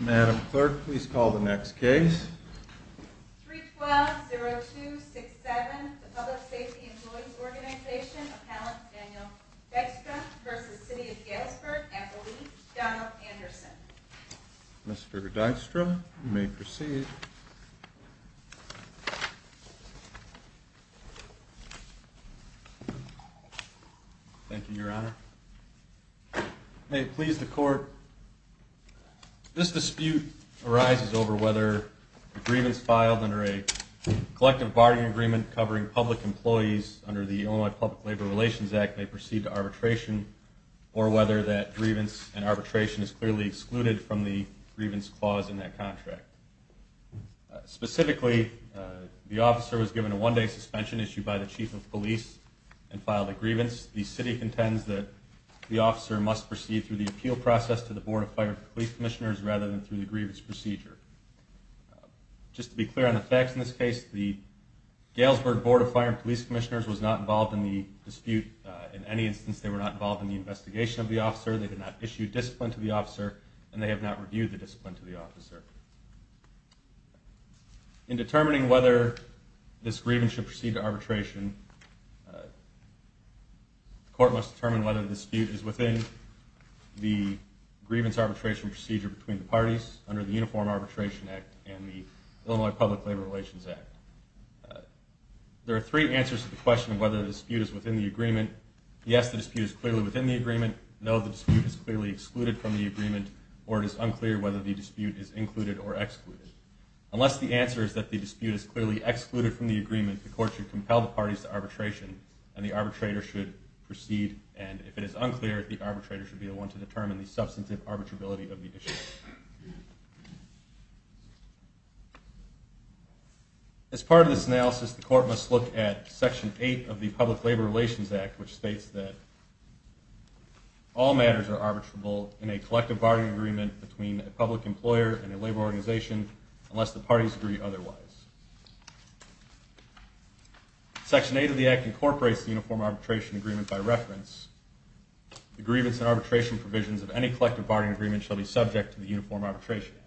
Madam Clerk, please call the next case. 312-0267, the Public Safety Employees' Organization, Appellant Daniel Dijkstra v. City of Galesburg, Appellee Donald Anderson. Mr. Dijkstra, you may proceed. Thank you, Your Honor. May it please the Court, this dispute arises over whether grievance filed under a collective bargaining agreement covering public employees under the Illinois Public Labor Relations Act may proceed to arbitration, or whether that grievance and arbitration is clearly excluded from the grievance clause in that contract. Specifically, the officer was given a one-day suspension issued by the Chief of Police and filed a grievance. The City contends that the officer must proceed through the appeal process to the Board of Fire and Police Commissioners rather than through the grievance procedure. Just to be clear on the facts in this case, the Galesburg Board of Fire and Police Commissioners was not involved in the dispute in any instance. They were not involved in the investigation of the officer, they did not issue discipline to the officer, and they have not reviewed the discipline to the officer. In determining whether this grievance should proceed to arbitration, the Court must determine whether the dispute is within the grievance arbitration procedure between the parties under the Uniform Arbitration Act and the Illinois Public Labor Relations Act. There are three answers to the question of whether the dispute is within the agreement. Yes, the dispute is clearly within the agreement, no, the dispute is clearly excluded from the agreement, or it is unclear whether the dispute is included or excluded. Unless the answer is that the dispute is clearly excluded from the agreement, the Court should compel the parties to arbitration and the arbitrator should proceed, and if it is unclear, the arbitrator should be the one to determine the substantive arbitrability of the issue. As part of this analysis, the Court must look at Section 8 of the Public Labor Relations Act, which states that all matters are arbitrable in a collective bargaining agreement between a public employer and a labor organization unless the parties agree otherwise. Section 8 of the Act incorporates the Uniform Arbitration Agreement by reference. The grievance and arbitration provisions of any collective bargaining agreement shall be subject to the Uniform Arbitration Act.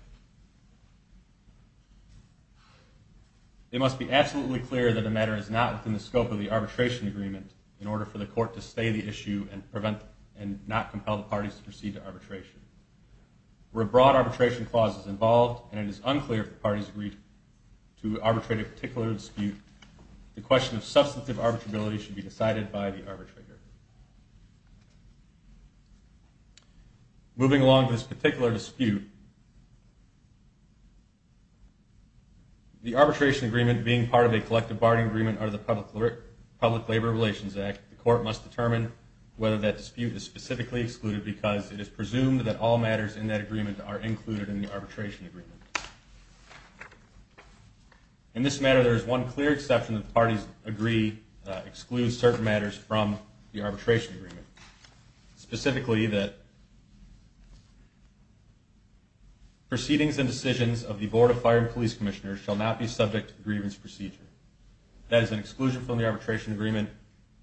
It must be absolutely clear that the matter is not within the scope of the arbitration agreement in order for the Court to stay the issue and not compel the parties to proceed to arbitration. Where a broad arbitration clause is involved and it is unclear if the parties agree to arbitrate a particular dispute, the question of substantive arbitrability should be decided by the arbitrator. Moving along to this particular dispute, the arbitration agreement being part of a collective bargaining agreement under the Public Labor Relations Act, the Court must determine whether that dispute is specifically excluded because it is presumed that all matters in that agreement are included in the arbitration agreement. In this matter, there is one clear exception that the parties agree excludes certain matters from the arbitration agreement. Specifically, proceedings and decisions of the Board of Fire and Police Commissioners shall not be subject to the grievance procedure. As an exclusion from the arbitration agreement,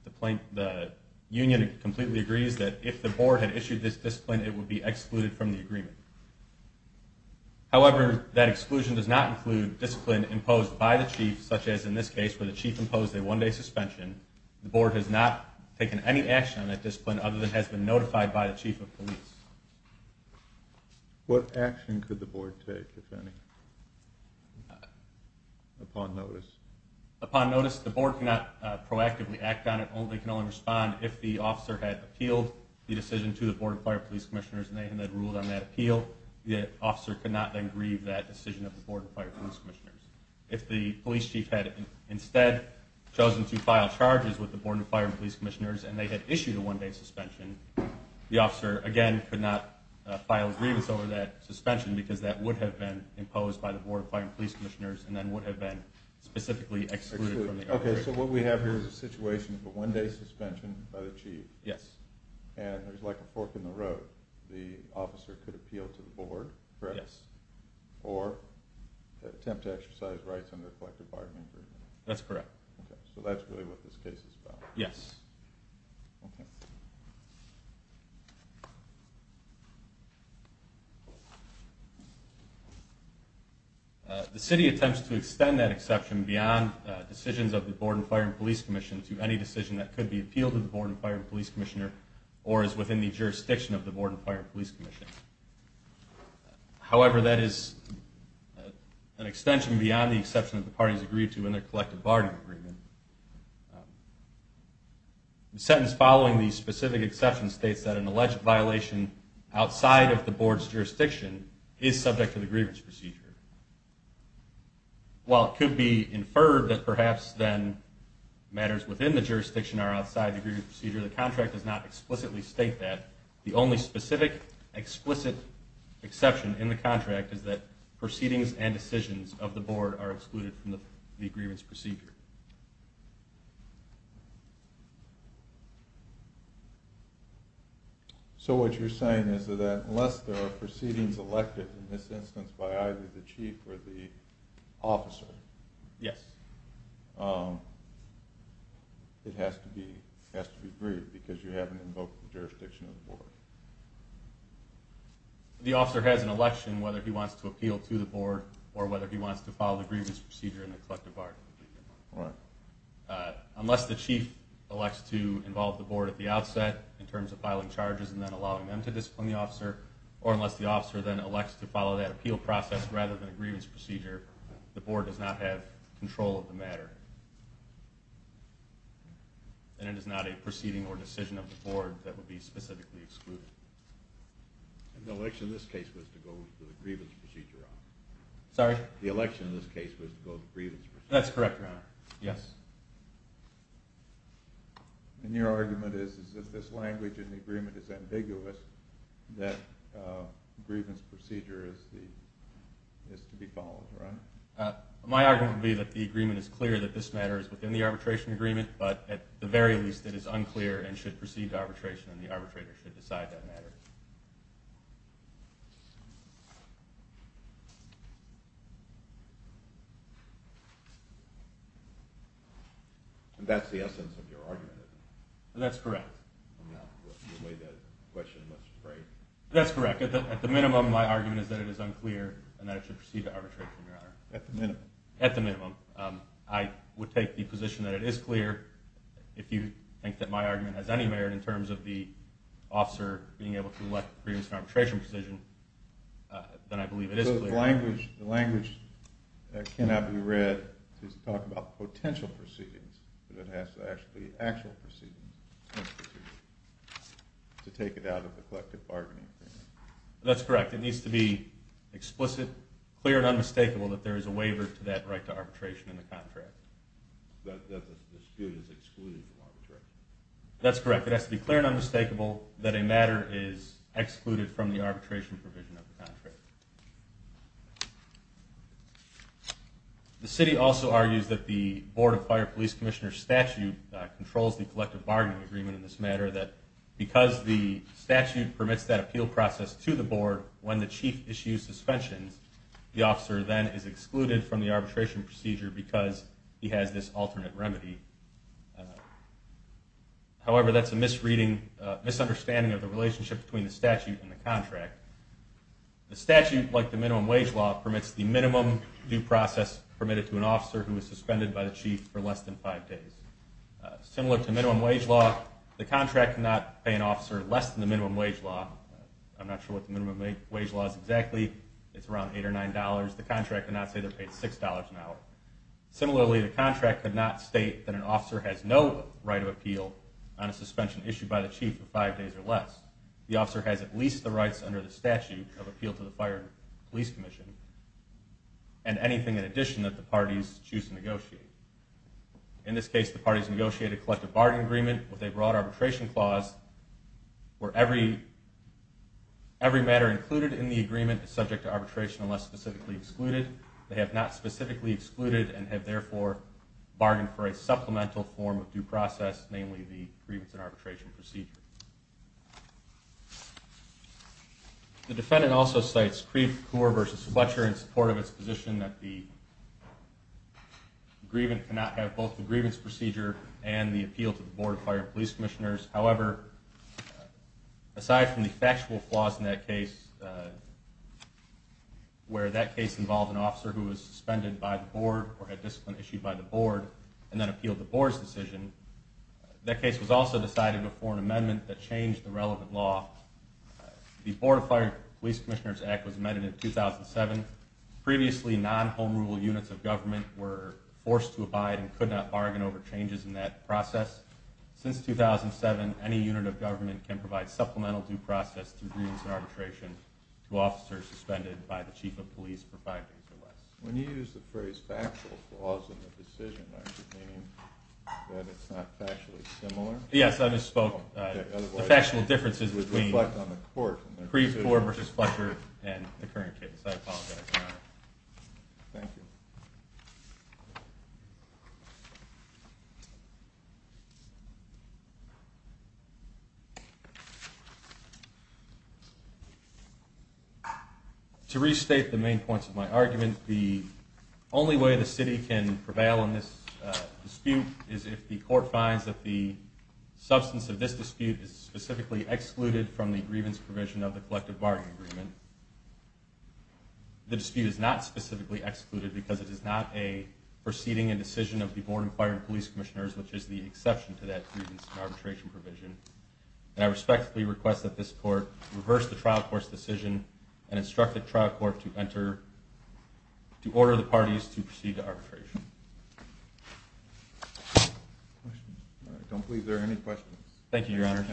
the Union completely agrees that if the Board had issued this discipline, it would be excluded from the agreement. However, that exclusion does not include discipline imposed by the Chief, such as in this case where the Chief imposed a one-day suspension. The Board has not taken any action on that discipline other than has been notified by the Chief of Police. What action could the Board take, if any, upon notice? Upon notice, the Board cannot proactively act on it. It can only respond if the officer had appealed the decision to the Board of Fire and Police Commissioners and they had ruled on that appeal. The officer could not then grieve that decision of the Board of Fire and Police Commissioners. If the Police Chief had instead chosen to file charges with the Board of Fire and Police Commissioners and they had issued a one-day suspension, the officer, again, could not file grievance over that suspension because that would have been imposed by the Board of Fire and Police Commissioners and then would have been specifically excluded from the agreement. Okay, so what we have here is a situation of a one-day suspension by the Chief. Yes. And there's like a fork in the road. The officer could appeal to the Board, correct? Yes. Or attempt to exercise rights under collective bargaining agreement. That's correct. Okay, so that's really what this case is about. Yes. Okay. The city attempts to extend that exception beyond decisions of the Board of Fire and Police Commission to any decision that could be appealed to the Board of Fire and Police Commissioner or is within the jurisdiction of the Board of Fire and Police Commission. However, that is an extension beyond the exception that the parties agreed to in their collective bargaining agreement. The sentence following the specific exception states that an alleged violation outside of the Board's jurisdiction is subject to the grievance procedure. While it could be inferred that perhaps then matters within the jurisdiction are outside the grievance procedure, the contract does not explicitly state that. The only specific, explicit exception in the contract is that proceedings and decisions of the Board are excluded from the grievance procedure. So what you're saying is that unless there are proceedings elected in this instance by either the Chief or the officer... Yes. ...it has to be agreed because you haven't invoked the jurisdiction of the Board. The officer has an election whether he wants to appeal to the Board or whether he wants to follow the grievance procedure in the collective bargaining agreement. Right. Unless the Chief elects to involve the Board at the outset in terms of filing charges and then allowing them to discipline the officer, or unless the matter. And it is not a proceeding or decision of the Board that would be specifically excluded. The election in this case was to go to the grievance procedure, Your Honor. Sorry? The election in this case was to go to the grievance procedure. That's correct, Your Honor. Yes. And your argument is that this language in the agreement is ambiguous, that the grievance procedure is to be followed, Your Honor? My argument would be that the agreement is clear that this matter is within the arbitration agreement, but at the very least it is unclear and should proceed to arbitration and the arbitrator should decide that matter. That's the essence of your argument, isn't it? That's correct. No, the way that question looks is right. That's correct. At the minimum, my argument is that it is unclear and that it should proceed to arbitration, Your Honor. At the minimum? At the minimum. I would take the position that it is clear. If you think that my argument has any merit in terms of the officer being able to elect a grievance and arbitration decision, then I believe it is clear. But if the language cannot be read to talk about potential proceedings, then it has to actually be actual proceedings to take it out of the collective bargaining agreement. That's correct. It needs to be explicit, clear, and unmistakable that there is a waiver to that right to arbitration in the contract. That's correct. It has to be clear and unmistakable that a matter is excluded from the arbitration provision of the contract. The city also argues that the Board of Fire Police Commissioner statute controls the collective bargaining agreement in this matter, that because the statute permits that appeal process to the board when the chief issues suspensions, the officer then is excluded from the arbitration procedure because he has this alternate remedy. However, that's a misunderstanding of the relationship between the statute and the contract. The statute, like the minimum wage law, permits the minimum due process permitted to an officer who is suspended by the chief for less than five days. Similar to minimum wage law, the contract cannot pay an officer less than the minimum wage law. I'm not sure what the minimum wage law is exactly. It's around $8 or $9. The contract cannot say they're paid $6 an hour. Similarly, the contract could not state that an officer has no right of appeal on a suspension issued by the chief for five days or less. The officer has at least the rights under the statute of appeal to the Fire Police Commission and anything in addition that the parties choose to negotiate. In this case, the parties negotiated a collective bargaining agreement with a broad arbitration clause where every matter included in the agreement is subject to arbitration unless specifically excluded. They have not specifically excluded and have therefore bargained for a supplemental form of due process, namely the grievance and arbitration procedure. The defendant also cites Creve Coeur v. Fletcher in support of its position that the grievant cannot have both the grievance procedure and the appeal to the Board of Fire and Police Commissioners. However, aside from the factual flaws in that case where that case involved an officer who was suspended by the board or had discipline issued by the board and then appealed the board's decision, that case was also decided before an amendment that changed the relevant law. The Board of Fire and Police Commissioners Act was amended in 2007. Previously, non-home rule units of government were forced to abide and could not bargain over changes in that process. Since 2007, any unit of government can provide supplemental due process to grievance and arbitration to officers suspended by the chief of police for five days or less. When you use the phrase factual flaws in the decision, are you meaning that it's not factually similar? Yes, I misspoke. The factual differences between Creve Coeur v. Fletcher and the current case. I apologize for that. Thank you. To restate the main points of my argument, the only way the city can prevail in this dispute is if the court finds that the substance of this dispute is specifically excluded from the grievance provision of the collective bargaining agreement. The dispute is not specifically excluded because it is not a proceeding and decision of the Board of Fire and Police Commissioners, which is the exception to that grievance and arbitration provision. And I respectfully request that this court reverse the trial court's decision and instruct the trial court to order the parties to proceed to arbitration. Questions? I don't believe there are any questions. Thank you, Your Honor.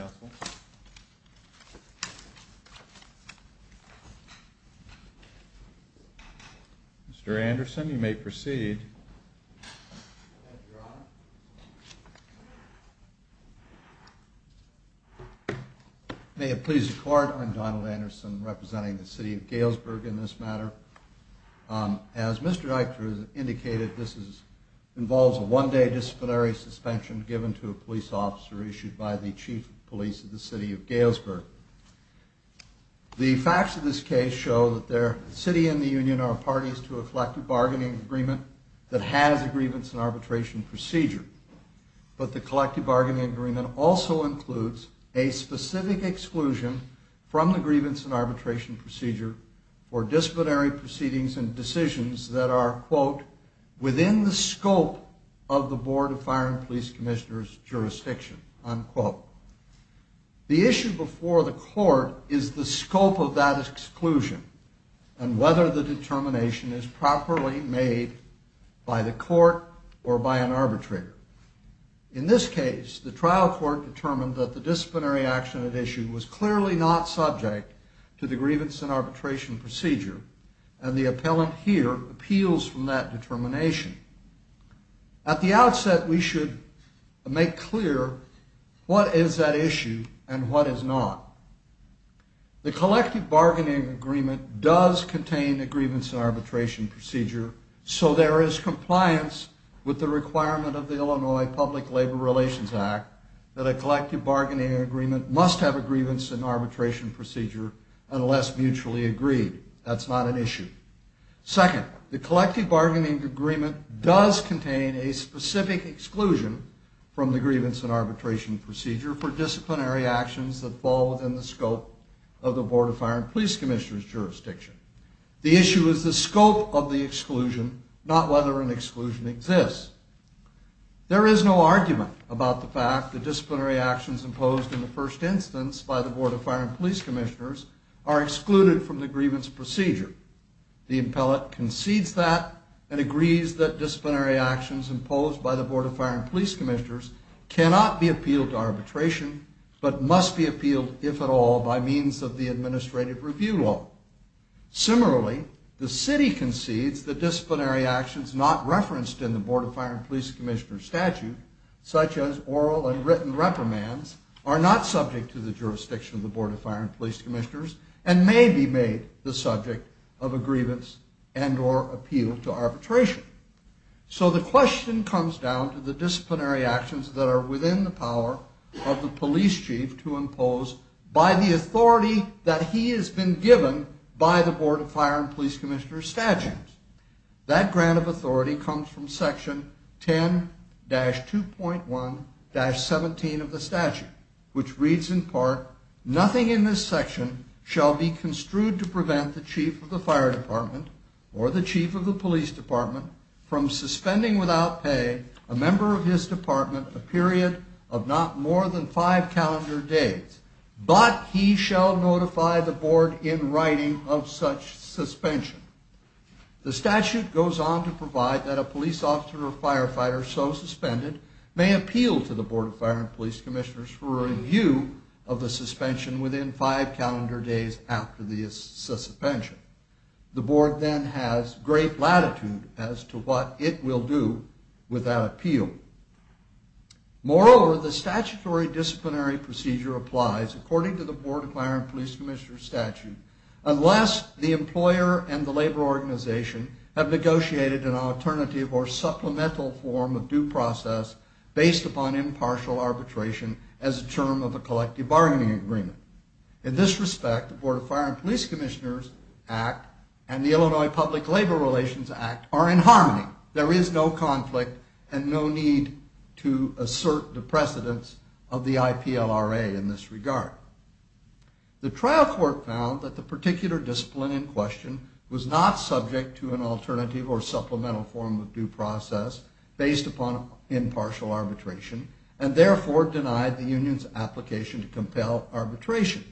Mr. Anderson, you may proceed. Thank you, Your Honor. May it please the Court, I'm Donald Anderson representing the City of Galesburg in this matter. As Mr. Eichner has indicated, this involves a one-day disciplinary suspension given to a police officer issued by the chief of police of the City of Galesburg. The facts of this case show that the city and the union are parties to a collective bargaining agreement that has a grievance and arbitration procedure, but the collective bargaining agreement also includes a specific exclusion from the grievance and arbitration procedure for disciplinary proceedings and decisions that are, quote, within the scope of the Board of Fire and Police Commissioners' jurisdiction, unquote. The issue before the court is the scope of that exclusion and whether the determination is properly made by the court or by an arbitrator. In this case, the trial court determined that the disciplinary action at issue was clearly not subject to the grievance and arbitration procedure, and the appellant here appeals from that determination. At the outset, we should make clear what is at issue and what is not. The collective bargaining agreement does contain a grievance and arbitration procedure, so there is compliance with the requirement of the Illinois Public Labor Relations Act that a collective bargaining agreement must have a grievance and arbitration procedure Second, the collective bargaining agreement does contain a specific exclusion from the grievance and arbitration procedure for disciplinary actions that fall within the scope of the Board of Fire and Police Commissioners' jurisdiction. The issue is the scope of the exclusion, not whether an exclusion exists. There is no argument about the fact that disciplinary actions imposed in the first instance by the Board of Fire and Police Commissioners are excluded from the grievance procedure. The appellant concedes that and agrees that disciplinary actions imposed by the Board of Fire and Police Commissioners cannot be appealed to arbitration, but must be appealed, if at all, by means of the administrative review law. Similarly, the city concedes that disciplinary actions not referenced in the Board of Fire and Police Commissioners' statute, such as oral and written reprimands, are not subject to the jurisdiction of the Board of Fire and Police Commissioners and may be made the subject of a grievance and or appeal to arbitration. So the question comes down to the disciplinary actions that are within the power of the police chief to impose by the authority that he has been given by the Board of Fire and Police Commissioners' statutes. That grant of authority comes from section 10-2.1-17 of the statute, which reads in part, Nothing in this section shall be construed to prevent the chief of the fire department or the chief of the police department from suspending without pay a member of his department a period of not more than five calendar days, but he shall notify the board in writing of such suspension. The statute goes on to provide that a police officer or firefighter so suspended may appeal to the Board of Fire and Police Commissioners for review of the suspension within five calendar days after the suspension. The board then has great latitude as to what it will do with that appeal. Moreover, the statutory disciplinary procedure applies, according to the Board of Fire and Police Commissioners' statute, unless the employer and the labor organization have negotiated an alternative or supplemental form of due process based upon impartial arbitration as a term of a collective bargaining agreement. In this respect, the Board of Fire and Police Commissioners Act and the Illinois Public Labor Relations Act are in harmony. There is no conflict and no need to assert the precedence of the IPLRA in this regard. The trial court found that the particular discipline in question was not subject to an alternative or supplemental form of due process based upon impartial arbitration and therefore denied the union's application to compel arbitration.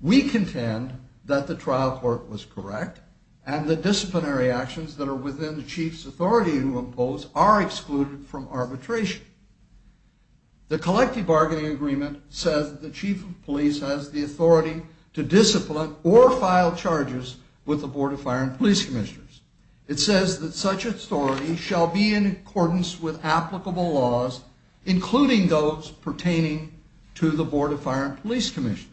We contend that the trial court was correct and the disciplinary actions that are within the chief's authority to impose are excluded from arbitration. to discipline or file charges with the Board of Fire and Police Commissioners. It says that such authority shall be in accordance with applicable laws, including those pertaining to the Board of Fire and Police Commissioners.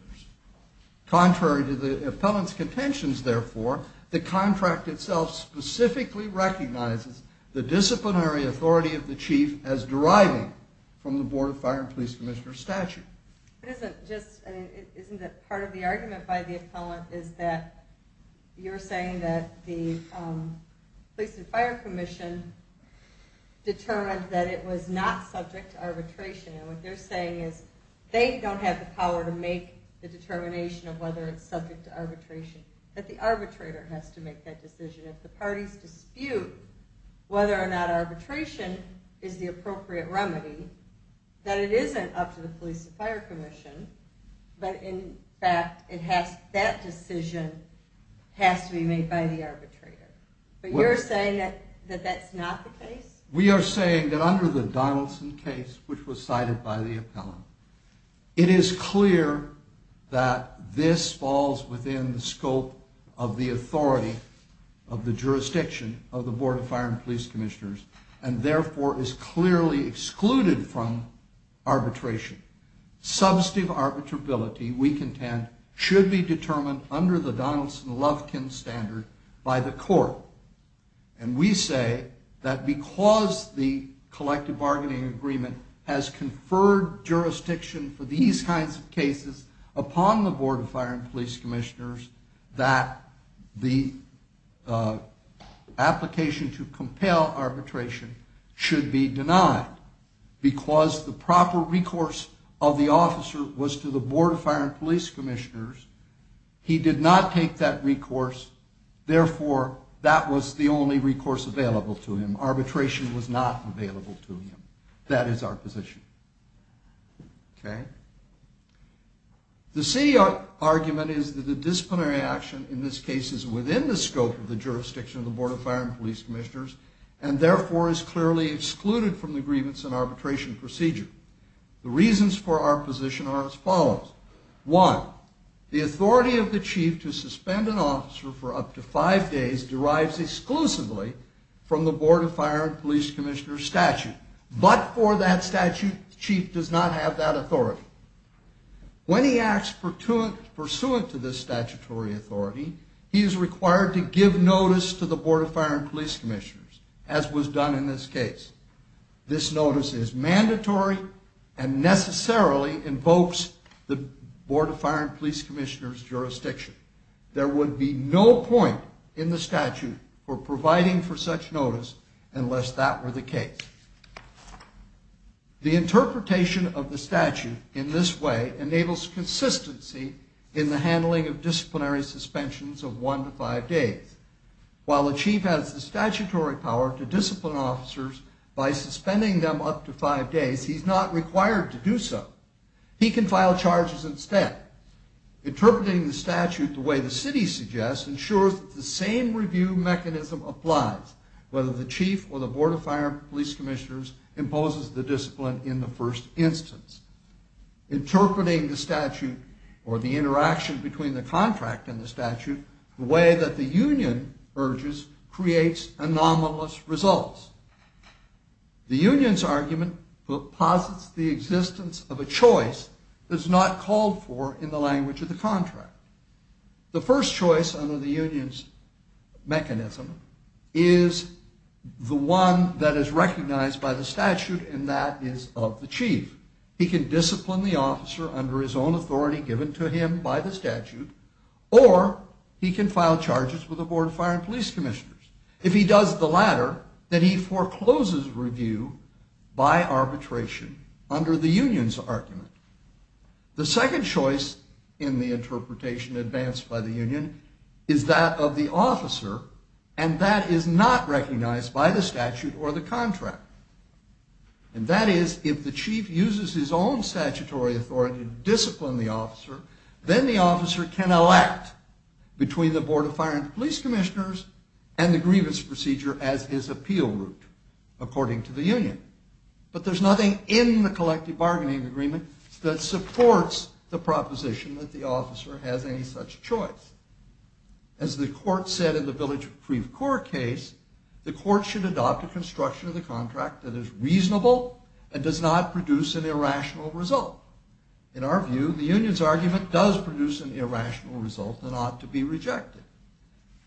Contrary to the appellant's contentions, therefore, the contract itself specifically recognizes the disciplinary authority of the chief as deriving from the Board of Fire and Police Commissioners' statute. Isn't part of the argument by the appellant is that you're saying that the Police and Fire Commission determined that it was not subject to arbitration and what they're saying is they don't have the power to make the determination of whether it's subject to arbitration, that the arbitrator has to make that decision. If the parties dispute whether or not arbitration is the appropriate remedy, then it isn't up to the Police and Fire Commission, but in fact that decision has to be made by the arbitrator. But you're saying that that's not the case? We are saying that under the Donaldson case, which was cited by the appellant, it is clear that this falls within the scope of the authority of the jurisdiction of the Board of Fire and Police Commissioners and therefore is clearly excluded from arbitration. Substantive arbitrability, we contend, should be determined under the Donaldson-Lovkin standard by the court. And we say that because the collective bargaining agreement has conferred jurisdiction for these kinds of cases upon the Board of Fire and Police Commissioners, that the application to compel arbitration should be denied because the proper recourse of the officer was to the Board of Fire and Police Commissioners. He did not take that recourse, therefore that was the only recourse available to him. Arbitration was not available to him. That is our position. Okay? The C argument is that the disciplinary action in this case is within the scope of the jurisdiction of the Board of Fire and Police Commissioners and therefore is clearly excluded from the grievance and arbitration procedure. The reasons for our position are as follows. One, the authority of the chief to suspend an officer for up to five days derives exclusively from the Board of Fire and Police Commissioners statute. But for that statute, the chief does not have that authority. When he acts pursuant to this statutory authority, he is required to give notice to the Board of Fire and Police Commissioners, as was done in this case. This notice is mandatory and necessarily invokes the Board of Fire and Police Commissioners jurisdiction. There would be no point in the statute for providing for such notice unless that were the case. The interpretation of the statute in this way enables consistency in the handling of disciplinary suspensions of one to five days. While the chief has the statutory power to discipline officers by suspending them up to five days, he's not required to do so. He can file charges instead. Interpreting the statute the way the city suggests ensures that the same review mechanism applies, whether the chief or the Board of Fire and Police Commissioners imposes the discipline in the first instance. Interpreting the statute or the interaction between the contract and the statute the way that the union urges creates anomalous results. The union's argument deposits the existence of a choice that is not called for in the language of the contract. The first choice under the union's mechanism is the one that is recognized by the statute, and that is of the chief. He can discipline the officer under his own authority given to him by the statute, or he can file charges with the Board of Fire and Police Commissioners. If he does the latter, then he forecloses review by arbitration under the union's argument. The second choice in the interpretation advanced by the union is that of the officer, and that is not recognized by the statute or the contract. And that is, if the chief uses his own statutory authority to discipline the officer, then the officer can elect between the Board of Fire and Police Commissioners and the grievance procedure as his appeal route, according to the union. But there's nothing in the collective bargaining agreement that supports the proposition that the officer has any such choice. As the court said in the Village of Creve Coeur case, the court should adopt a construction of the contract that is reasonable and does not produce an irrational result. In our view, the union's argument does produce an irrational result and ought to be rejected.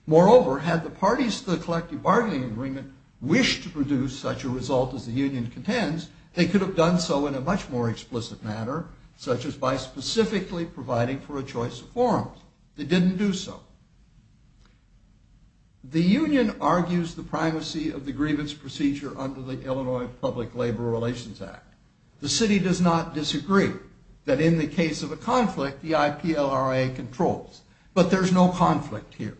Moreover, had the parties to the collective bargaining agreement wished to produce such a result as the union contends, they could have done so in a much more explicit manner, such as by specifically providing for a choice of forms. They didn't do so. The union argues the primacy of the grievance procedure under the Illinois Public Labor Relations Act. The city does not disagree that in the case of a conflict, the IPLRA controls. But there's no conflict here.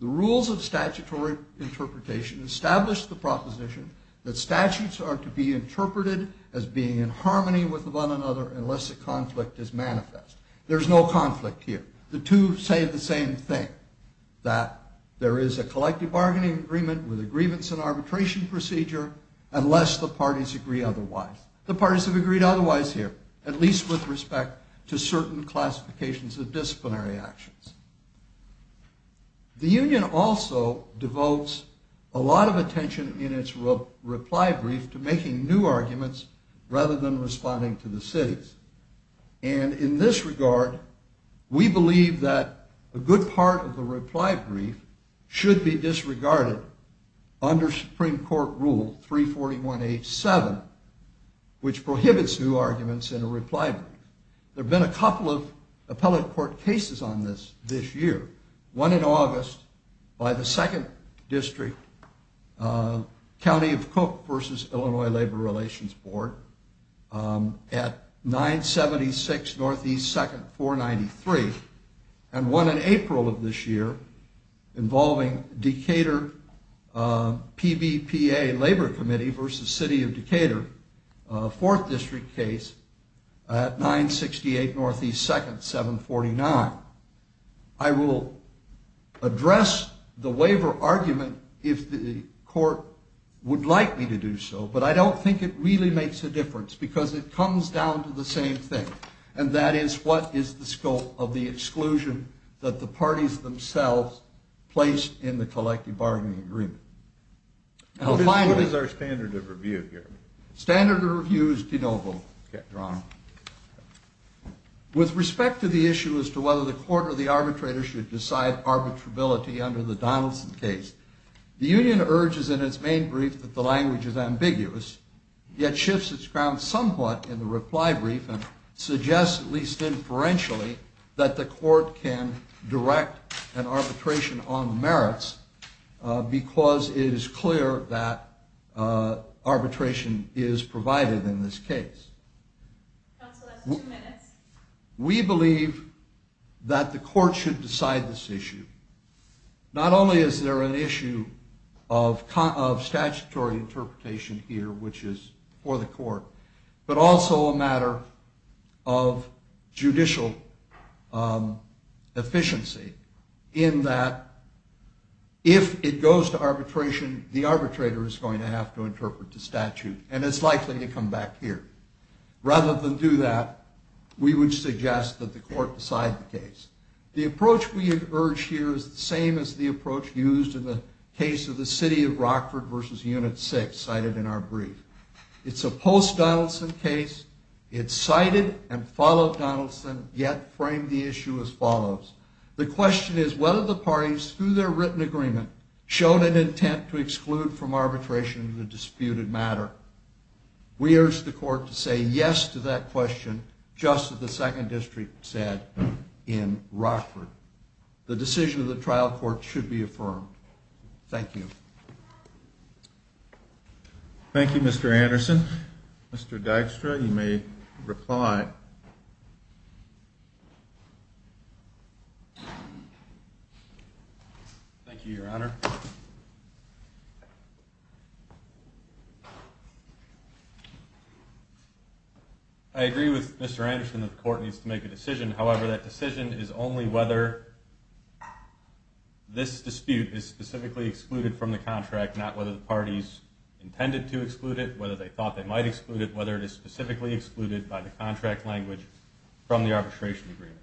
The rules of statutory interpretation establish the proposition that statutes are to be interpreted as being in harmony with one another unless a conflict is manifest. There's no conflict here. The two say the same thing, that there is a collective bargaining agreement with a grievance and arbitration procedure unless the parties agree otherwise. The parties have agreed otherwise here, at least with respect to certain classifications of disciplinary actions. The union also devotes a lot of attention in its reply brief to making new arguments rather than responding to the city's. And in this regard, we believe that a good part of the reply brief should be disregarded under Supreme Court Rule 341H7, which prohibits new arguments in a reply brief. There have been a couple of appellate court cases on this this year. One in August by the 2nd District, County of Cook versus Illinois Labor Relations Board at 976 Northeast 2nd, 493, and one in April of this year involving Decatur PBPA Labor Committee versus City of Decatur, a 4th District case, at 968 Northeast 2nd, 749. I will address the waiver argument if the court would like me to do so, but I don't think it really makes a difference because it comes down to the same thing, and that is what is the scope of the exclusion that the parties themselves place in the collective bargaining agreement. What is our standard of review here? Standard of review is de novo, Your Honor. With respect to the issue as to whether the court or the arbitrator should decide arbitrability under the Donaldson case, the union urges in its main brief that the language is ambiguous, yet shifts its ground somewhat in the reply brief and suggests, at least inferentially, that the court can direct an arbitration on the merits because it is clear that arbitration is provided in this case. Counsel, that's two minutes. We believe that the court should decide this issue. Not only is there an issue of statutory interpretation here, which is for the court, but also a matter of judicial efficiency in that if it goes to arbitration, the arbitrator is going to have to interpret the statute, and it's likely to come back here. Rather than do that, we would suggest that the court decide the case. The approach we have urged here is the same as the approach used in the case of the city of Rockford v. Unit 6 cited in our brief. It's a post-Donaldson case. It cited and followed Donaldson, yet framed the issue as follows. The question is whether the parties, through their written agreement, showed an intent to exclude from arbitration the disputed matter. We urge the court to say yes to that question, just as the Second District said in Rockford. The decision of the trial court should be affirmed. Thank you. Thank you, Mr. Anderson. Mr. Dykstra, you may reply. Thank you, Your Honor. I agree with Mr. Anderson that the court needs to make a decision. However, that decision is only whether this dispute is specifically excluded from the contract, not whether the parties intended to exclude it, whether they thought they might exclude it, whether it is specifically excluded by the contract language from the arbitration agreement.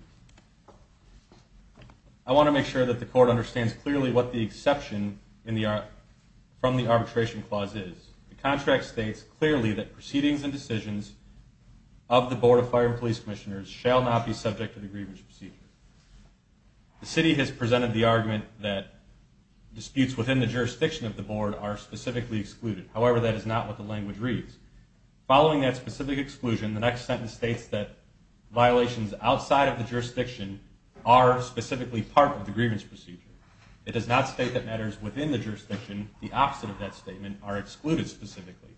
I want to make sure that the court understands clearly what the exception from the arbitration clause is. The contract states clearly that proceedings and decisions of the Board of Fire and Police Commissioners shall not be subject to the grievance procedure. The city has presented the argument that disputes within the jurisdiction of the board are specifically excluded. However, that is not what the language reads. Following that specific exclusion, the next sentence states that violations outside of the jurisdiction are specifically part of the grievance procedure. It does not state that matters within the jurisdiction. The opposite of that statement are excluded specifically.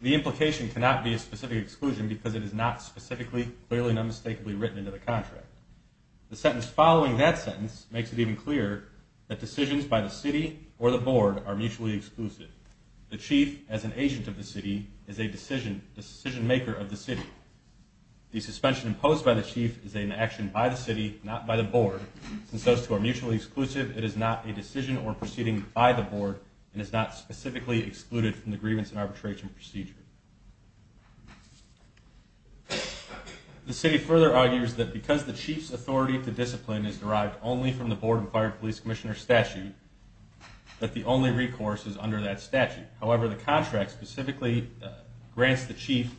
The implication cannot be a specific exclusion because it is not specifically, clearly, and unmistakably written into the contract. The sentence following that sentence makes it even clearer that decisions by the city or the board are mutually exclusive. The chief, as an agent of the city, is a decision-maker of the city. The suspension imposed by the chief is an action by the city, not by the board. Since those two are mutually exclusive, it is not a decision or proceeding by the board and is not specifically excluded from the grievance and arbitration procedure. The city further argues that because the chief's authority to discipline is derived only from the board and fire and police commissioner statute, that the only recourse is under that statute. However, the contract specifically grants the chief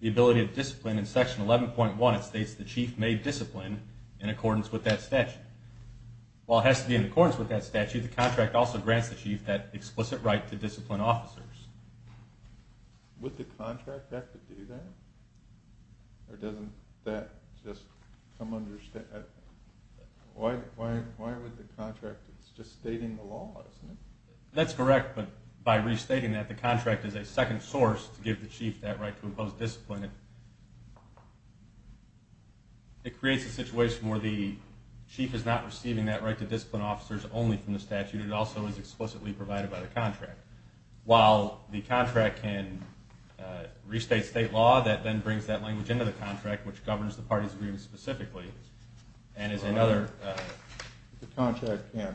the ability to discipline in section 11.1. It states the chief may discipline in accordance with that statute. While it has to be in accordance with that statute, the contract also grants the chief that explicit right to discipline officers. That's correct, but by restating that, the contract is a second source to give the chief that right to impose discipline. It creates a situation where the chief is not receiving that right to discipline officers only from the statute. It also is explicitly provided by the contract. While the contract can restate state law, that then brings that language into the contract, which governs the party's agreement specifically. The contract can't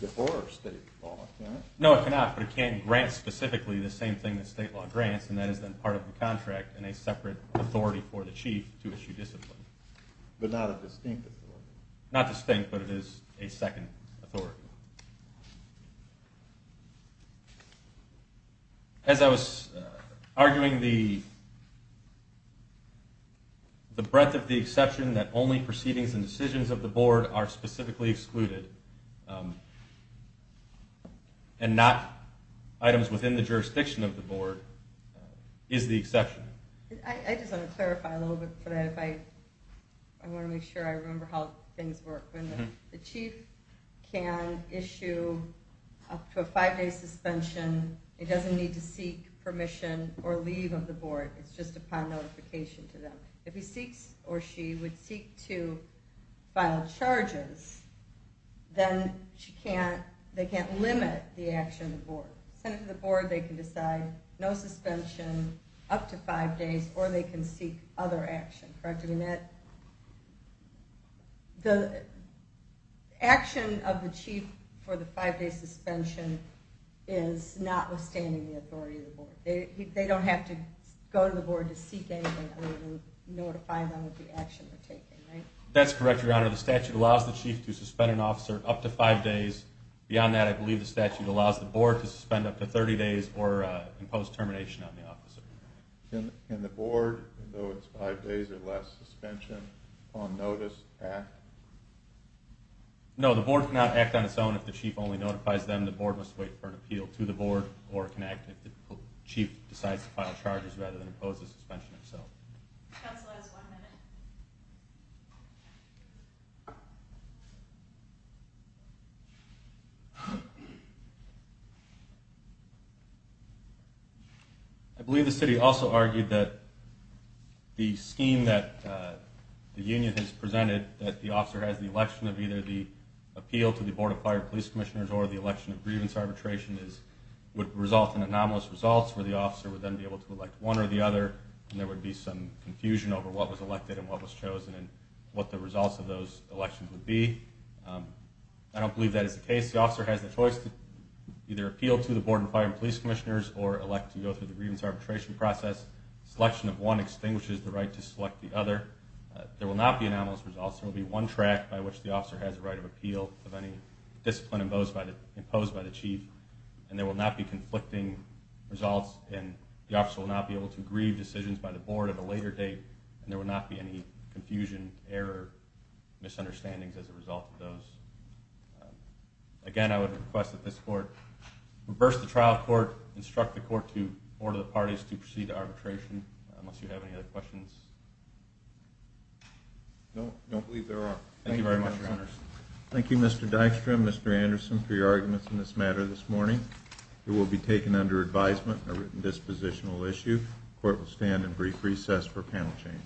divorce state law, can it? No, it cannot, but it can grant specifically the same thing that state law grants, and that is then part of the contract and a separate authority for the chief to issue discipline. But not a distinct authority? Not distinct, but it is a second authority. As I was arguing, the breadth of the exception that only proceedings and decisions of the board are specifically excluded, and not items within the jurisdiction of the board, is the exception. I just want to clarify a little bit for that. I want to make sure I remember how things work. The chief can issue up to a five-day suspension. It doesn't need to seek permission or leave of the board. It's just upon notification to them. If he or she would seek to file charges, then they can't limit the action of the board. The board can decide no suspension up to five days, or they can seek other action. The action of the chief for the five-day suspension is notwithstanding the authority of the board. They don't have to go to the board to seek anything other than notify them of the action they're taking. That's correct, Your Honor. The statute allows the chief to suspend an officer up to five days. Beyond that, I believe the statute allows the board to suspend up to 30 days or impose termination on the officer. Can the board, though it's five days or less suspension, upon notice act? No, the board cannot act on its own if the chief only notifies them. The board must wait for an appeal to the board or can act if the chief decides to file charges rather than impose the suspension itself. Counsel has one minute. I believe the city also argued that the scheme that the union has presented, that the officer has the election of either the appeal to the Board of Fire and Police Commissioners or the election of grievance arbitration would result in anomalous results where the officer would then be able to elect one or the other, I believe the city also argued that the scheme that the union has presented, what the results of those elections would be. I don't believe that is the case. The officer has the choice to either appeal to the Board of Fire and Police Commissioners or elect to go through the grievance arbitration process. Selection of one extinguishes the right to select the other. There will not be anomalous results. There will be one track by which the officer has the right of appeal of any discipline imposed by the chief. And there will not be conflicting results and the officer will not be able to grieve decisions by the board at a later date and there will not be any confusion, error, misunderstandings as a result of those. Again, I would request that this court reverse the trial court, instruct the court to order the parties to proceed to arbitration unless you have any other questions. No, I don't believe there are. Thank you very much, Your Honors. Thank you, Mr. Dykstra and Mr. Anderson, for your arguments in this matter this morning. It will be taken under advisement, a written dispositional issue. The court will stand and brief recess for panel change.